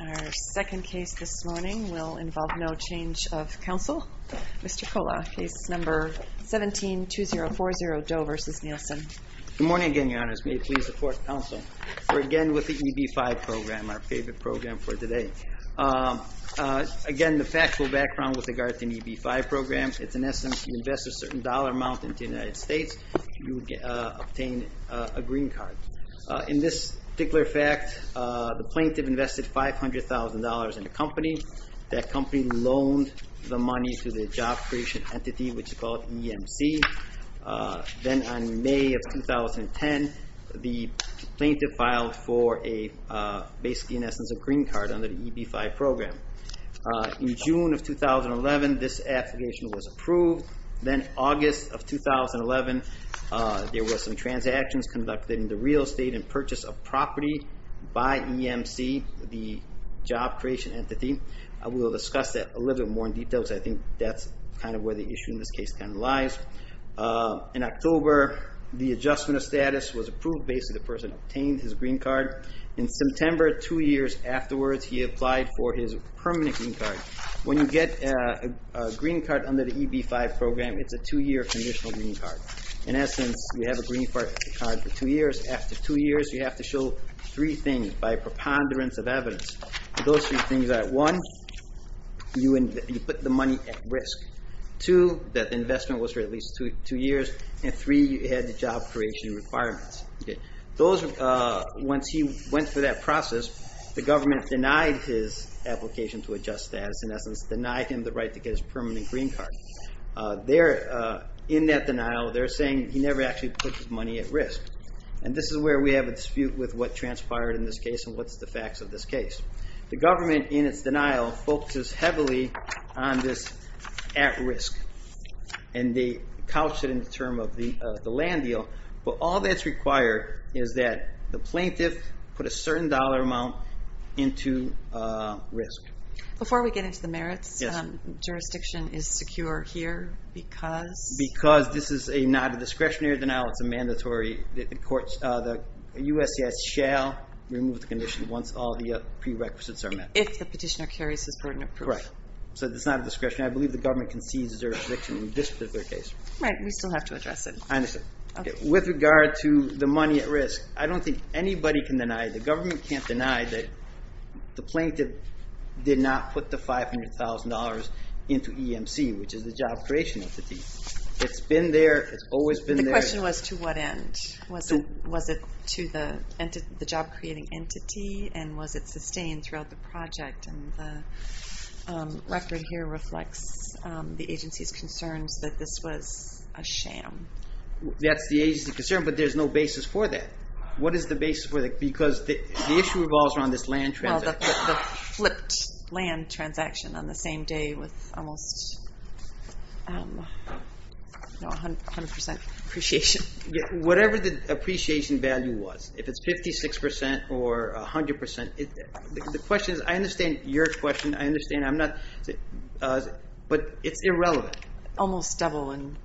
Our second case this morning will involve no change of counsel. Mr. Kola, case number 17-2040, Doe v. Nielsen. Good morning again, your honors. May it please the fourth counsel. We're again with the EB-5 program, our favorite program for today. Again, the factual background with regard to the EB-5 program, it's in essence you invest a certain dollar amount into the United States, you obtain a green card. In this particular fact, the plaintiff invested $500,000 in a company. That company loaned the money to the job creation entity, which is called EMC. Then on May of 2010, the plaintiff filed for a basically in essence a green card under the EB-5 program. In June of 2011, this application was approved. Then August of 2011, there were some transactions conducted in the real estate and purchase of property by EMC, the job creation entity. I will discuss that a little bit more in detail because I think that's kind of where the issue in this case kind of lies. In October, the adjustment of status was approved based on the person who obtained his green card. In September, two years afterwards, he applied for his permanent green card. When you get a green card under the EB-5 program, it's a two-year conditional green card. In essence, you have a green card for two years. After two years, you have to show three things by preponderance of evidence. Those three things are one, you put the money at risk. Two, that the investment was for at least two years. And three, you had the job creation requirements. Once he went through that process, the government denied his application to adjust status. In essence, denied him the right to get his permanent green card. In that denial, they're saying he never actually put his money at risk. And this is where we have a dispute with what transpired in this case and what's the facts of this case. The government, in its denial, focuses heavily on this at risk. And they couch it in the term of the land deal. But all that's required is that the plaintiff put a certain dollar amount into risk. Before we get into the merits, jurisdiction is secure here because? Because this is not a discretionary denial, it's a mandatory. The USCIS shall remove the condition once all the prerequisites are met. If the petitioner carries his burden of proof. Correct. So it's not a discretionary. I believe the government can seize their jurisdiction in this particular case. Right, we still have to address it. I understand. With regard to the money at risk, I don't think anybody can deny, the government can't deny that the plaintiff did not put the $500,000 into EMC, which is the job creation entity. It's been there, it's always been there. The question was to what end? Was it to the job creating entity? And was it sustained throughout the project? And the record here reflects the agency's concerns that this was a sham. That's the agency's concern, but there's no basis for that. What is the basis for that? Because the issue revolves around this land transaction. The flipped land transaction on the same day with almost 100% appreciation. Whatever the appreciation value was, if it's 56% or 100%, the question is, I understand your question, I understand, but it's irrelevant. Almost double in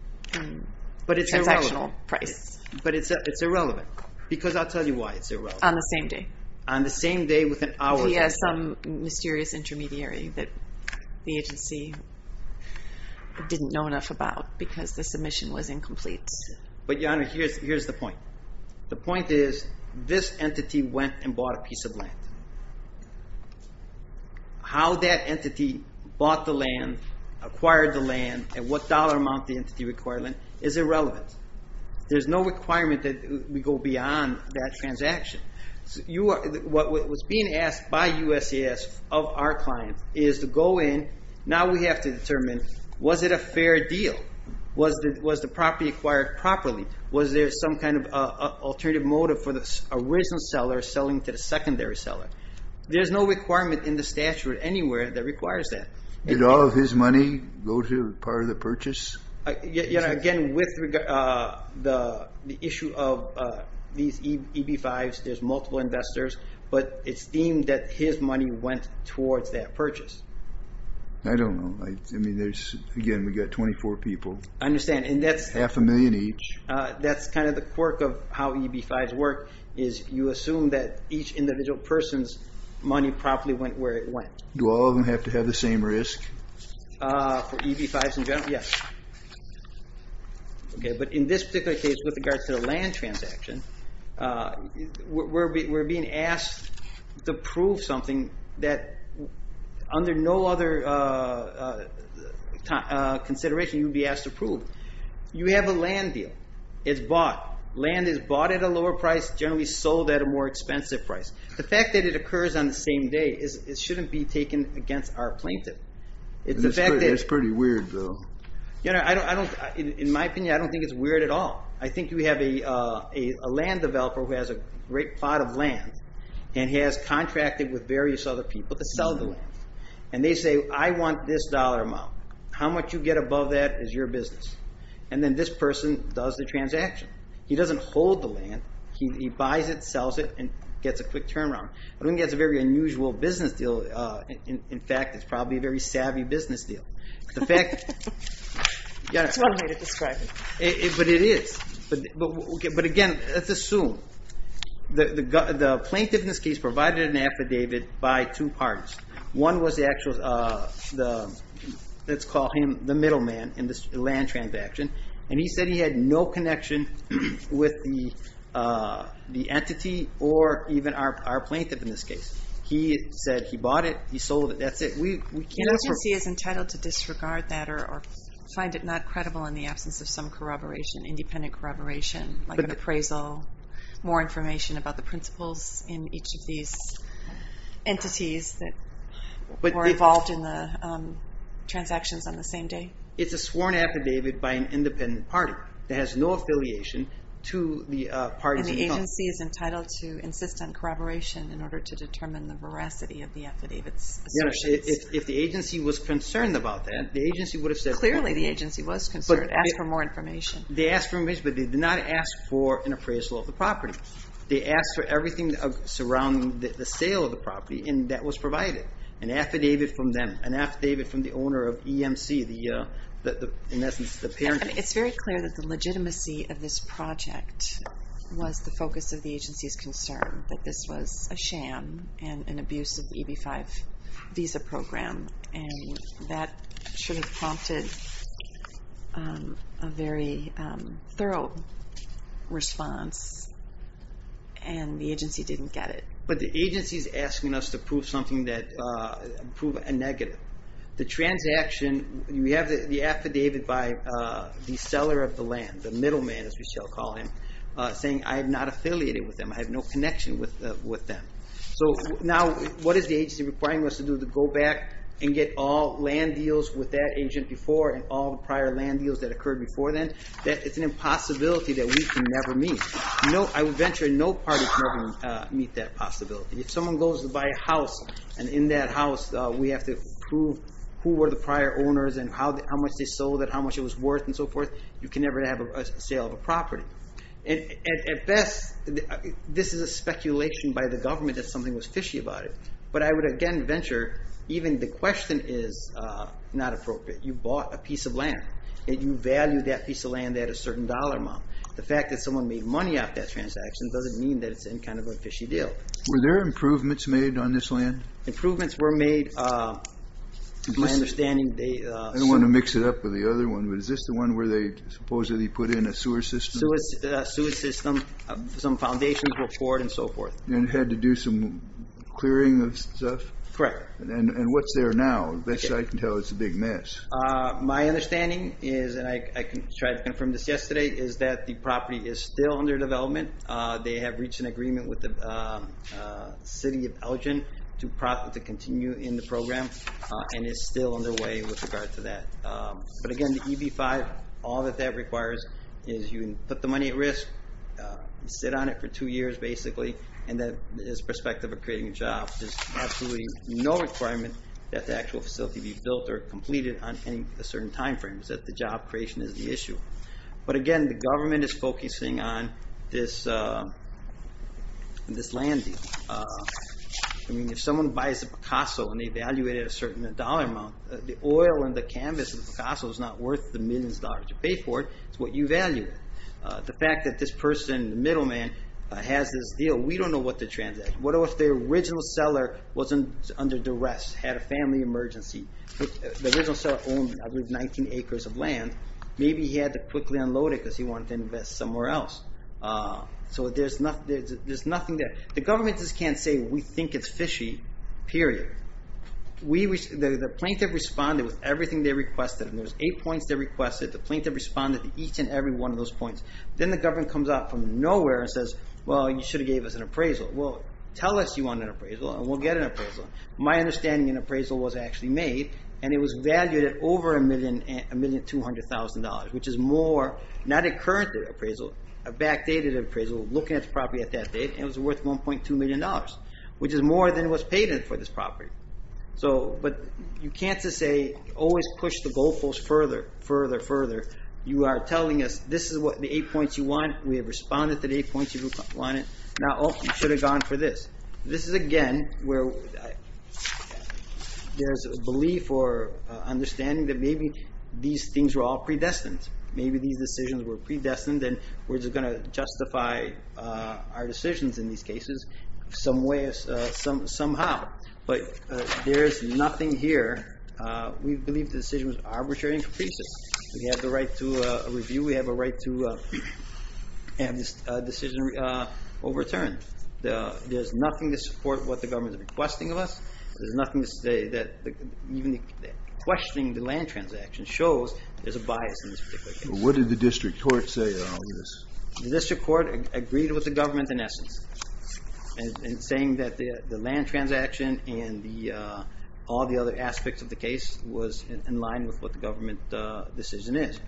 transactional price. But it's irrelevant. Because I'll tell you why it's irrelevant. On the same day. He has some mysterious intermediary that the agency didn't know enough about because the submission was incomplete. But your honor, here's the point. The point is, this entity went and bought a piece of land. How that entity bought the land, acquired the land, and what dollar amount the entity required, is irrelevant. There's no requirement that we go beyond that transaction. What was being asked by USCIS of our client is to go in, now we have to determine, was it a fair deal? Was the property acquired properly? Was there some kind of alternative motive for the original seller selling to the secondary seller? There's no requirement in the statute anywhere that requires that. Did all of his money go to part of the purchase? Again, with the issue of these EB-5s, there's multiple investors, but it's deemed that his money went towards that purchase. I don't know. Again, we've got 24 people. I understand. Half a million each. That's kind of the quirk of how EB-5s work, is you assume that each individual person's money properly went where it went. Do all of them have to have the same risk? For EB-5s in general? Yes. In this particular case, with regards to the land transaction, we're being asked to prove something that under no other consideration you'd be asked to prove. You have a land deal. It's bought. Land is bought at a lower price, generally sold at a more expensive price. The fact that it occurs on the same day shouldn't be taken against our plaintiff. That's pretty weird, though. In my opinion, I don't think it's weird at all. I think you have a land developer who has a great plot of land and has contracted with various other people to sell the land. They say, I want this dollar amount. How much you get above that is your business. Then this person does the transaction. He doesn't hold the land. He buys it, sells it, and gets a quick turnaround. I don't think that's a very unusual business deal. In fact, it's probably a very savvy business deal. Again, let's assume the plaintiff in this case provided an affidavit by two parties. One was the actual, let's call him the middleman in this land transaction. He said he had no connection with the entity or even our plaintiff in this case. He said he bought it. He sold it. That's it. The agency is entitled to disregard that or find it not credible in the absence of some corroboration, independent corroboration, like an appraisal, more information about the principles in each of these entities that were involved in the transactions on the same day. It's a sworn affidavit by an independent party that has no affiliation to the parties involved. The agency is entitled to insist on corroboration in order to determine the veracity of the affidavit's assertions. If the agency was concerned about that, the agency would have said, Clearly the agency was concerned. Ask for more information. They asked for information, but they did not ask for an appraisal of the property. They asked for everything surrounding the sale of the property, and that was provided. An affidavit from them, an affidavit from the owner of EMC, in essence, the parent agency. It's very clear that the legitimacy of this project was the focus of the agency's concern, that this was a sham and an abuse of the EB-5 visa program, and that should have prompted a very thorough response, and the agency didn't get it. But the agency's asking us to prove something that, prove a negative. The transaction, we have the affidavit by the seller of the land, the middleman, as we shall call him, saying, I am not affiliated with them, I have no connection with them. So now, what is the agency requiring us to do? To go back and get all land deals with that agent before, and all the prior land deals that occurred before then? It's an impossibility that we can never meet. I would venture no party can ever meet that possibility. If someone goes to buy a house, and in that house, we have to prove who were the prior owners, and how much they sold it, how much it was worth, and so forth, you can never have a sale of a property. At best, this is a speculation by the government that something was fishy about it. But I would again venture, even the question is not appropriate. You bought a piece of land, and you value that piece of land at a certain dollar amount. The fact that someone made money off that transaction doesn't mean that it's any kind of a fishy deal. Were there improvements made on this land? Improvements were made, to my understanding. I don't want to mix it up with the other one, but is this the one where they supposedly put in a sewer system? Sewer system, some foundations were poured, and so forth. And had to do some clearing of stuff? Correct. And what's there now? Best I can tell, it's a big mess. My understanding is, and I tried to confirm this yesterday, is that the property is still under development. They have reached an agreement with the city of Elgin to continue in the program, and it's still underway with regard to that. But again, the EB-5, all that that requires is you can put the money at risk, sit on it for two years, basically, and that is prospective of creating a job. There's absolutely no requirement that the actual facility be built or completed on any certain time frames, that the job creation is the issue. But again, the government is focusing on this land deal. I mean, if someone buys a Picasso and they value it at a certain dollar amount, the oil on the canvas of the Picasso is not worth the millions of dollars you pay for it. It's what you value it. The fact that this person, the middleman, has this deal, we don't know what to transact. What if the original seller wasn't under duress, had a family emergency? The original seller owned 19 acres of land. Maybe he had to quickly unload it because he wanted to invest somewhere else. So there's nothing there. The government just can't say, we think it's fishy, period. The plaintiff responded with everything they requested, and there's eight points they requested. The plaintiff responded to each and every one of those points. Then the government comes out from nowhere and says, well, you should have gave us an appraisal. Well, tell us you want an appraisal, and we'll get an appraisal. My understanding, an appraisal was actually made, and it was valued at over $1,200,000, which is more, not a current appraisal, a backdated appraisal, looking at the property at that date, and it was worth $1.2 million, which is more than what's paid for this property. But you can't just say, always push the goalposts further, further, further. You are telling us, this is the eight points you want. We have responded to the eight points you wanted. Now, oh, you should have gone for this. This is, again, where there's a belief or understanding that maybe these things were all predestined. Maybe these decisions were predestined, and we're just going to justify our decisions in these cases somehow. But there's nothing here. We believe the decision was arbitrary and capricious. We have the right to review. We have a right to have this decision overturned. There's nothing to support what the government is requesting of us. There's nothing to say that even questioning the land transaction shows there's a bias in this particular case. What did the district court say in all of this? The district court agreed with the government in essence in saying that the land transaction and all the other aspects of the case was in line with what the government decision is.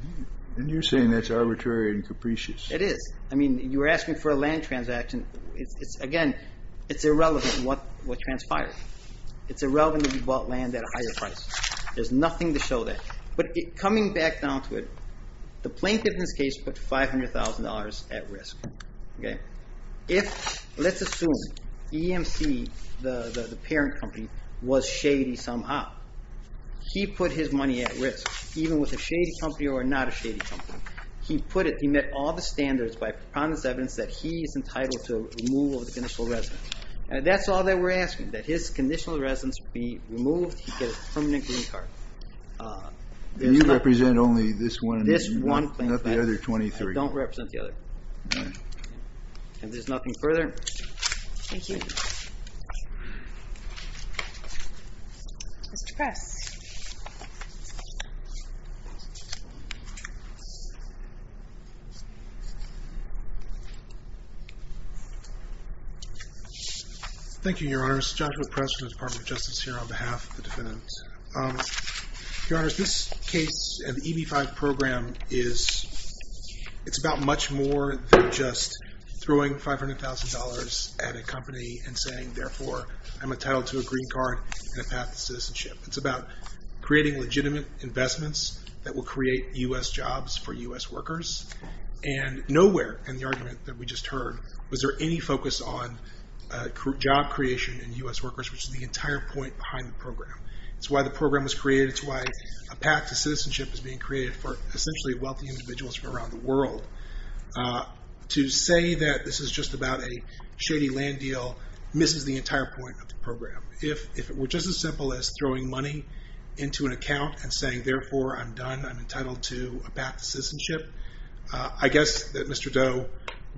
And you're saying that's arbitrary and capricious. It is. I mean, you were asking for a land transaction. Again, it's irrelevant what transpired. It's irrelevant if you bought land at a higher price. There's nothing to show that. But coming back down to it, the plaintiff in this case put $500,000 at risk. Let's assume EMC, the parent company, was shady somehow. He put his money at risk, even with a shady company or not a shady company. He put it. He met all the standards by prominent evidence that he is entitled to removal of the conditional residence. That's all that we're asking, that his conditional residence be removed. He'd get a permanent green card. You represent only this one and not the other 23. I don't represent the other. If there's nothing further. Thank you. Mr. Press. Thank you, Your Honor. This is Joshua Press from the Department of Justice here on behalf of the defendant. Your Honor, this case, the EB-5 program, is about much more than just throwing $500,000 at a company and saying, therefore, I'm entitled to a green card and a path to citizenship. It's about creating legitimate investments that will create U.S. jobs for U.S. workers. And nowhere in the argument that we just heard was there any focus on job creation in U.S. workers, which is the entire point behind the program. It's why the program was created. It's why a path to citizenship is being created for essentially wealthy individuals from around the world. To say that this is just about a shady land deal misses the entire point of the program. If it were just as simple as throwing money into an account I'm entitled to a path to citizenship, I guess that Mr. Doe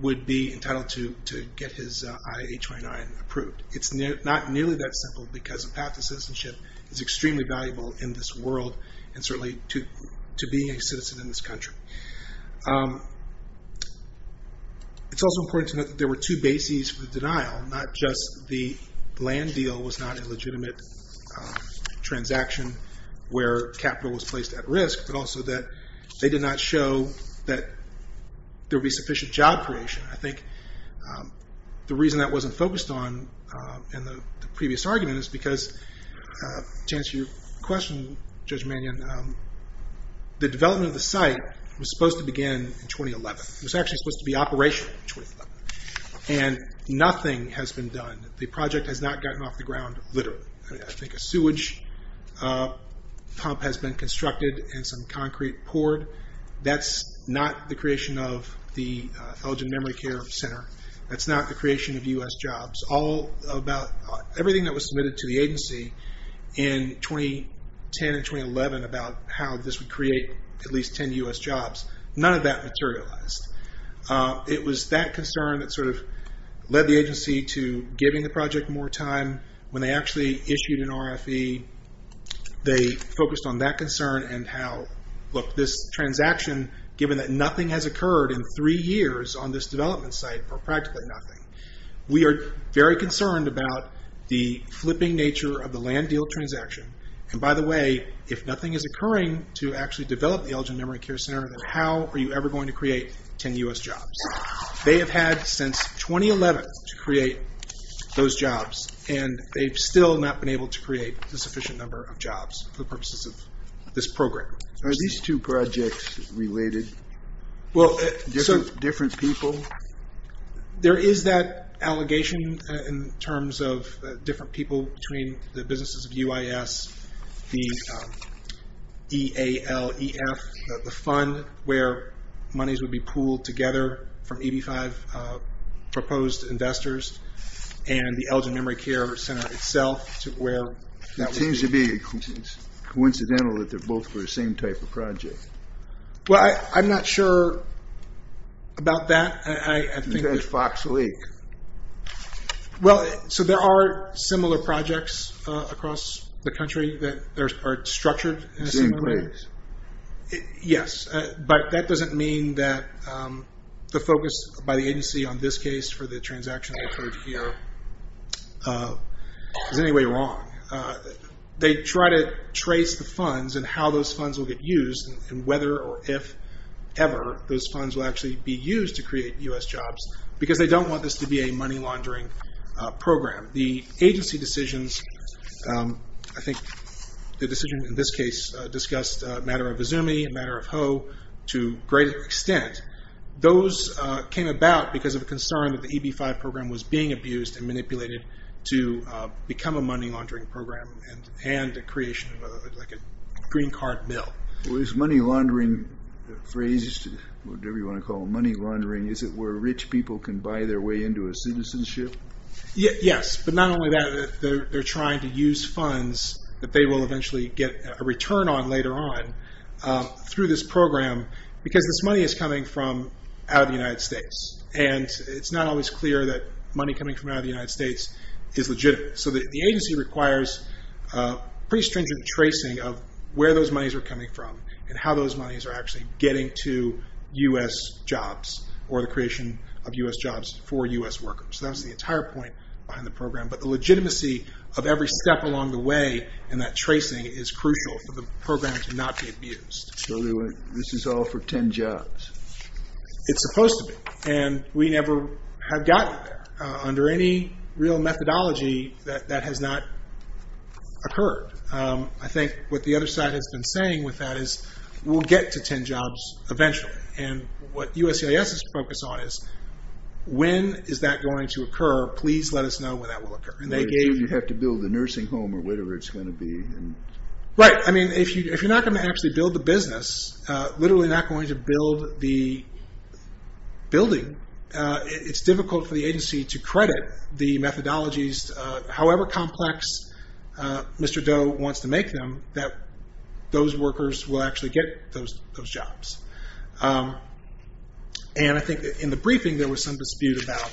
would be entitled to get his I-829 approved. It's not nearly that simple because a path to citizenship is extremely valuable in this world and certainly to being a citizen in this country. It's also important to note that there were two bases for denial. Not just the land deal was not a legitimate transaction where capital was placed at risk, but also that they did not show that there would be sufficient job creation. I think the reason that wasn't focused on in the previous argument is because to answer your question, Judge Mannion, the development of the site was supposed to begin in 2011. It was actually supposed to be operational in 2011. And nothing has been done. The project has not gotten off the ground, literally. I think a sewage pump has been constructed and some concrete poured. That's not the creation of the Elgin Memory Care Center. That's not the creation of U.S. jobs. Everything that was submitted to the agency in 2010 and 2011 about how this would create at least 10 U.S. jobs, none of that materialized. It was that concern that led the agency to giving the project more time. When they actually issued an RFE, they focused on that concern and how, look, this transaction, given that nothing has occurred in three years on this development site for practically nothing, we are very concerned about the flipping nature of the land deal transaction. And by the way, if nothing is occurring to actually develop the Elgin Memory Care Center, then how are you ever going to create 10 U.S. jobs? and they've still not been able to create a sufficient number of jobs for the purposes of this program. Are these two projects related? Different people? There is that allegation in terms of different people between the businesses of UIS, the E-A-L-E-F, the fund, where monies would be pooled together from EB-5 proposed investors, and the Elgin Memory Care Center itself, It seems to be coincidental that they're both for the same type of project. Well, I'm not sure about that. That's Fox Lake. Well, so there are similar projects across the country that are structured in a similar way. Yes, but that doesn't mean that the focus by the agency on this case for the transaction that occurred here is in any way wrong. They try to trace the funds and how those funds will get used and whether or if ever those funds will actually be used to create U.S. jobs because they don't want this to be a money laundering program. The agency decisions, I think the decision in this case discussed a matter of Izumi, a matter of Ho, to a greater extent. Those came about because of a concern that the EB-5 program was being abused and manipulated to become a money laundering program and a creation of a green card mill. Well, this money laundering phrase, whatever you want to call it, money laundering, is it where rich people can buy their way into a citizenship? Yes, but not only that. They're trying to use funds that they will eventually get a return on later on through this program because this money is coming from out of the United States and it's not always clear that money coming from out of the United States is legitimate. The agency requires pretty stringent tracing of where those monies are coming from and how those monies are actually getting to U.S. jobs or the creation of U.S. jobs for U.S. workers. That was the entire point behind the program, but the legitimacy of every step along the way in that tracing is crucial for the program to not be abused. So this is all for 10 jobs? It's supposed to be, and we never have gotten there under any real methodology that has not occurred. I think what the other side has been saying with that is we'll get to 10 jobs eventually and what USCIS is focused on is when is that going to occur? Please let us know when that will occur. You have to build a nursing home or whatever it's going to be. Right, I mean if you're not going to actually build the business literally not going to build the building, it's difficult for the agency to credit the methodologies however complex Mr. Doe wants to make them that those workers will actually get those jobs. And I think in the briefing there was some dispute about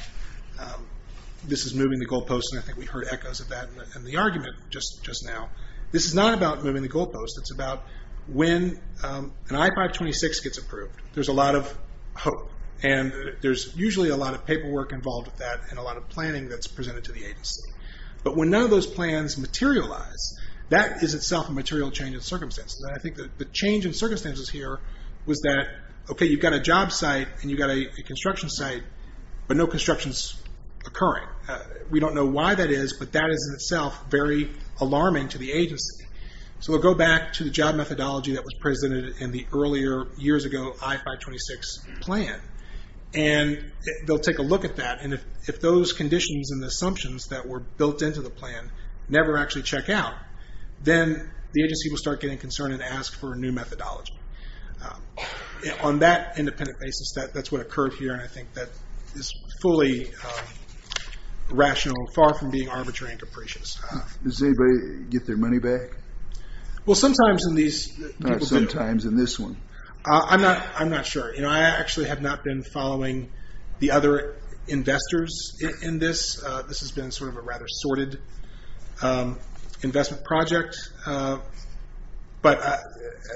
this is moving the goalposts and I think we heard echoes of that in the argument just now. This is not about moving the goalposts, it's about when an I-526 gets approved, there's a lot of hope and there's usually a lot of paperwork involved with that and a lot of planning that's presented to the agency. But when none of those plans materialize, that is itself a material change in circumstances. And I think the change in circumstances here was that, okay you've got a job site and you've got a construction site, but no construction's occurring. We don't know why that is, but that is in itself very alarming to the agency. So we'll go back to the job methodology that was presented in the earlier years ago I-526 plan and they'll take a look at that and if those conditions and assumptions that were built into the plan never actually check out, then the agency will start getting concerned and ask for a new methodology. On that independent basis, that's what occurred here and I think that is fully rational, far from being arbitrary and capricious. Does anybody get their money back? Sometimes in this one. I'm not sure. I actually have not been following the other investors in this. This has been sort of a rather sorted investment project. But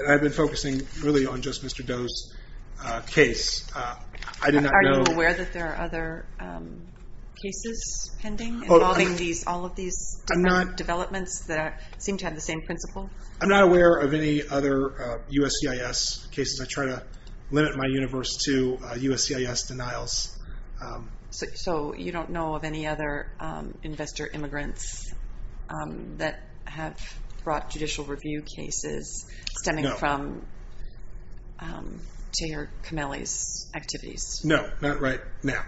I've been focusing really on just Mr. Doe's case. Are you aware that there are other cases pending involving all of these developments that seem to have the same principle? I'm not aware of any other USCIS cases. I try to limit my universe to USCIS denials. So you don't know of any other investor immigrants that have brought judicial review cases stemming from Taylor Camelli's activities? No, not right now.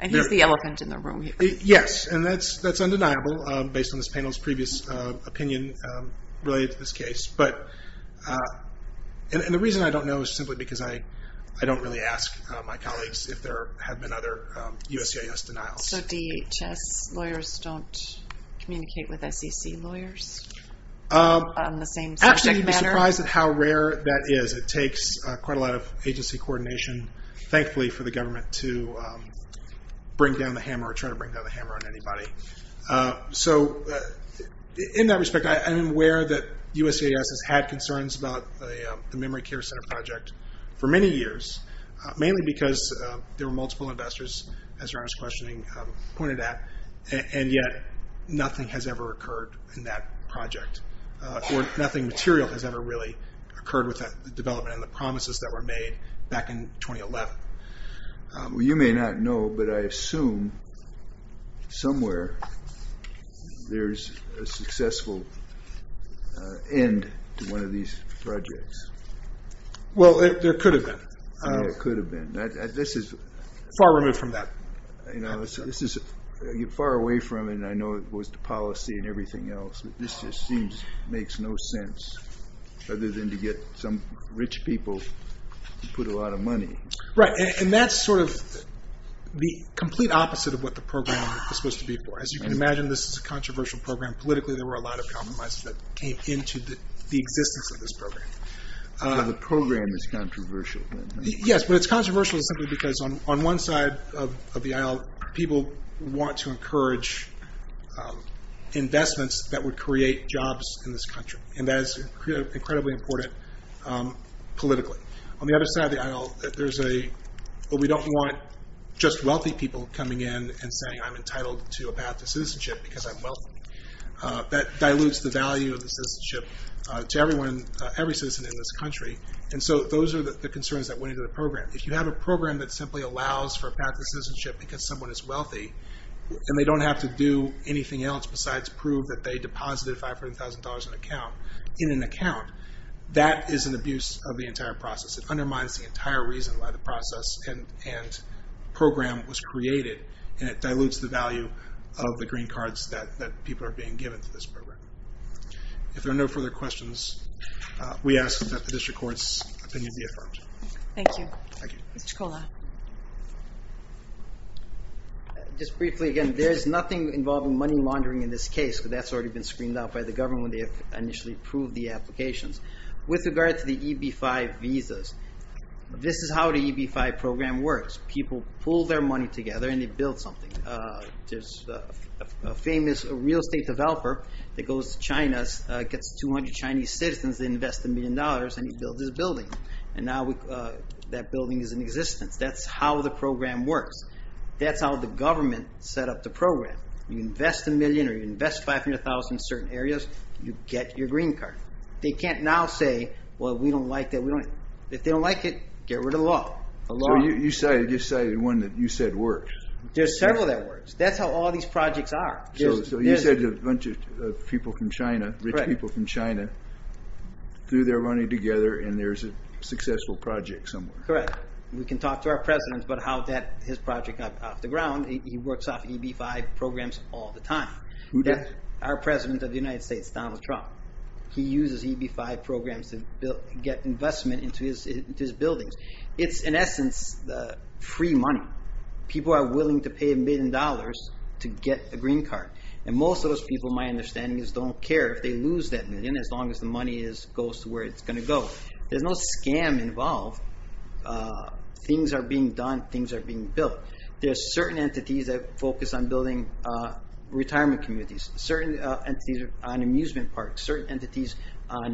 And he's the elephant in the room here. Yes, and that's undeniable based on this panel's previous opinion related to this case. And the reason I don't know is simply because I don't really ask my colleagues if there are lawyers who don't communicate with SEC lawyers on the same subject matter. Actually, you'd be surprised at how rare that is. It takes quite a lot of agency coordination, thankfully for the government to bring down the hammer or try to bring down the hammer on anybody. In that respect, I am aware that USCIS has had concerns about the Memory Care Center project for many years, mainly because there were a lot of people who were interested in that, and yet nothing has ever occurred in that project. Or nothing material has ever really occurred with that development and the promises that were made back in 2011. Well, you may not know, but I assume somewhere there's a successful end to one of these projects. Well, there could have been. Far removed from that. You're far away from it, and I know it goes to policy and everything else, but this just makes no sense, other than to get some rich people to put a lot of money. Right, and that's sort of the complete opposite of what the program was supposed to be for. As you can imagine, this is a controversial program. Politically, there were a lot of compromises that came into the existence of this program. The program is controversial. Yes, but it's controversial simply because on one side of the aisle, people want to encourage investments that would create jobs in this country, and that is incredibly important politically. On the other side of the aisle, we don't want just wealthy people coming in and saying, I'm entitled to a path to citizenship because I'm wealthy. That dilutes the value of the citizenship to every citizen in this country. And so those are the concerns that went into the program. If you have a program that simply allows for a path to citizenship because someone is wealthy, and they don't have to do anything else besides prove that they deposited $500,000 in an account, that is an abuse of the entire process. It undermines the entire reason why the process and program was created, and it dilutes the value of the green cards that people are being given to this program. If there are no further questions, we ask that the District Court's opinion be affirmed. Thank you. Mr. Kola. Just briefly again, there is nothing involving money laundering in this case because that's already been screened out by the government when they initially approved the applications. With regard to the EB-5 visas, this is how the EB-5 program works. People pool their money together and they get $500,000. A famous real estate developer that goes to China gets 200 Chinese citizens, they invest $1 million and he builds this building. And now that building is in existence. That's how the program works. That's how the government set up the program. You invest $1 million or you invest $500,000 in certain areas, you get your green card. They can't now say, well, we don't like that. If they don't like it, get rid of the law. You cited one that you said works. There's several that works. That's how all these projects are. You said a bunch of rich people from China threw their money together and there's a successful project somewhere. Correct. We can talk to our President about how his project got off the ground. He works off EB-5 programs all the time. Our President of the United States, Donald Trump, he uses EB-5 programs to get investment into his buildings. It's, in essence, free money. People are willing to pay a million dollars to get a green card. Most of those people, my understanding is, don't care if they lose that million as long as the money goes to where it's going to go. There's no scam involved. Things are being done. Things are being built. There are certain entities that focus on building retirement communities. Certain entities are on amusement parks. Certain entities are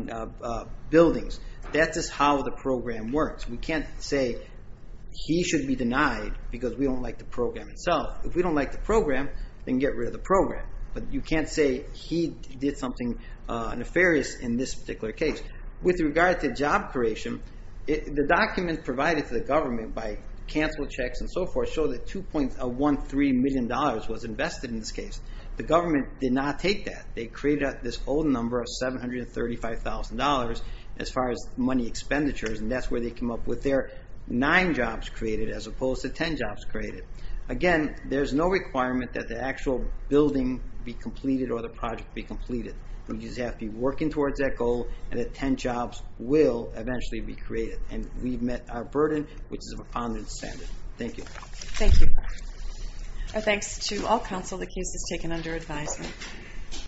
on buildings. That's just how the program works. We can't say he should be denied because we don't like the program itself. If we don't like the program, then get rid of the program. You can't say he did something nefarious in this particular case. With regard to job creation, the documents provided to the government by canceled checks and so forth show that $2.13 million was invested in this case. The government did not take that. They created this whole number of $735,000 as far as money expenditures, and that's where they came up with their nine jobs created as opposed to ten jobs created. Again, there's no requirement that the actual building be completed or the project be completed. We just have to be working towards that goal and that ten jobs will eventually be created. We've met our burden which is of a pound and a cent. Thank you. Thank you. Our thanks to all counsel the case has taken under advisement.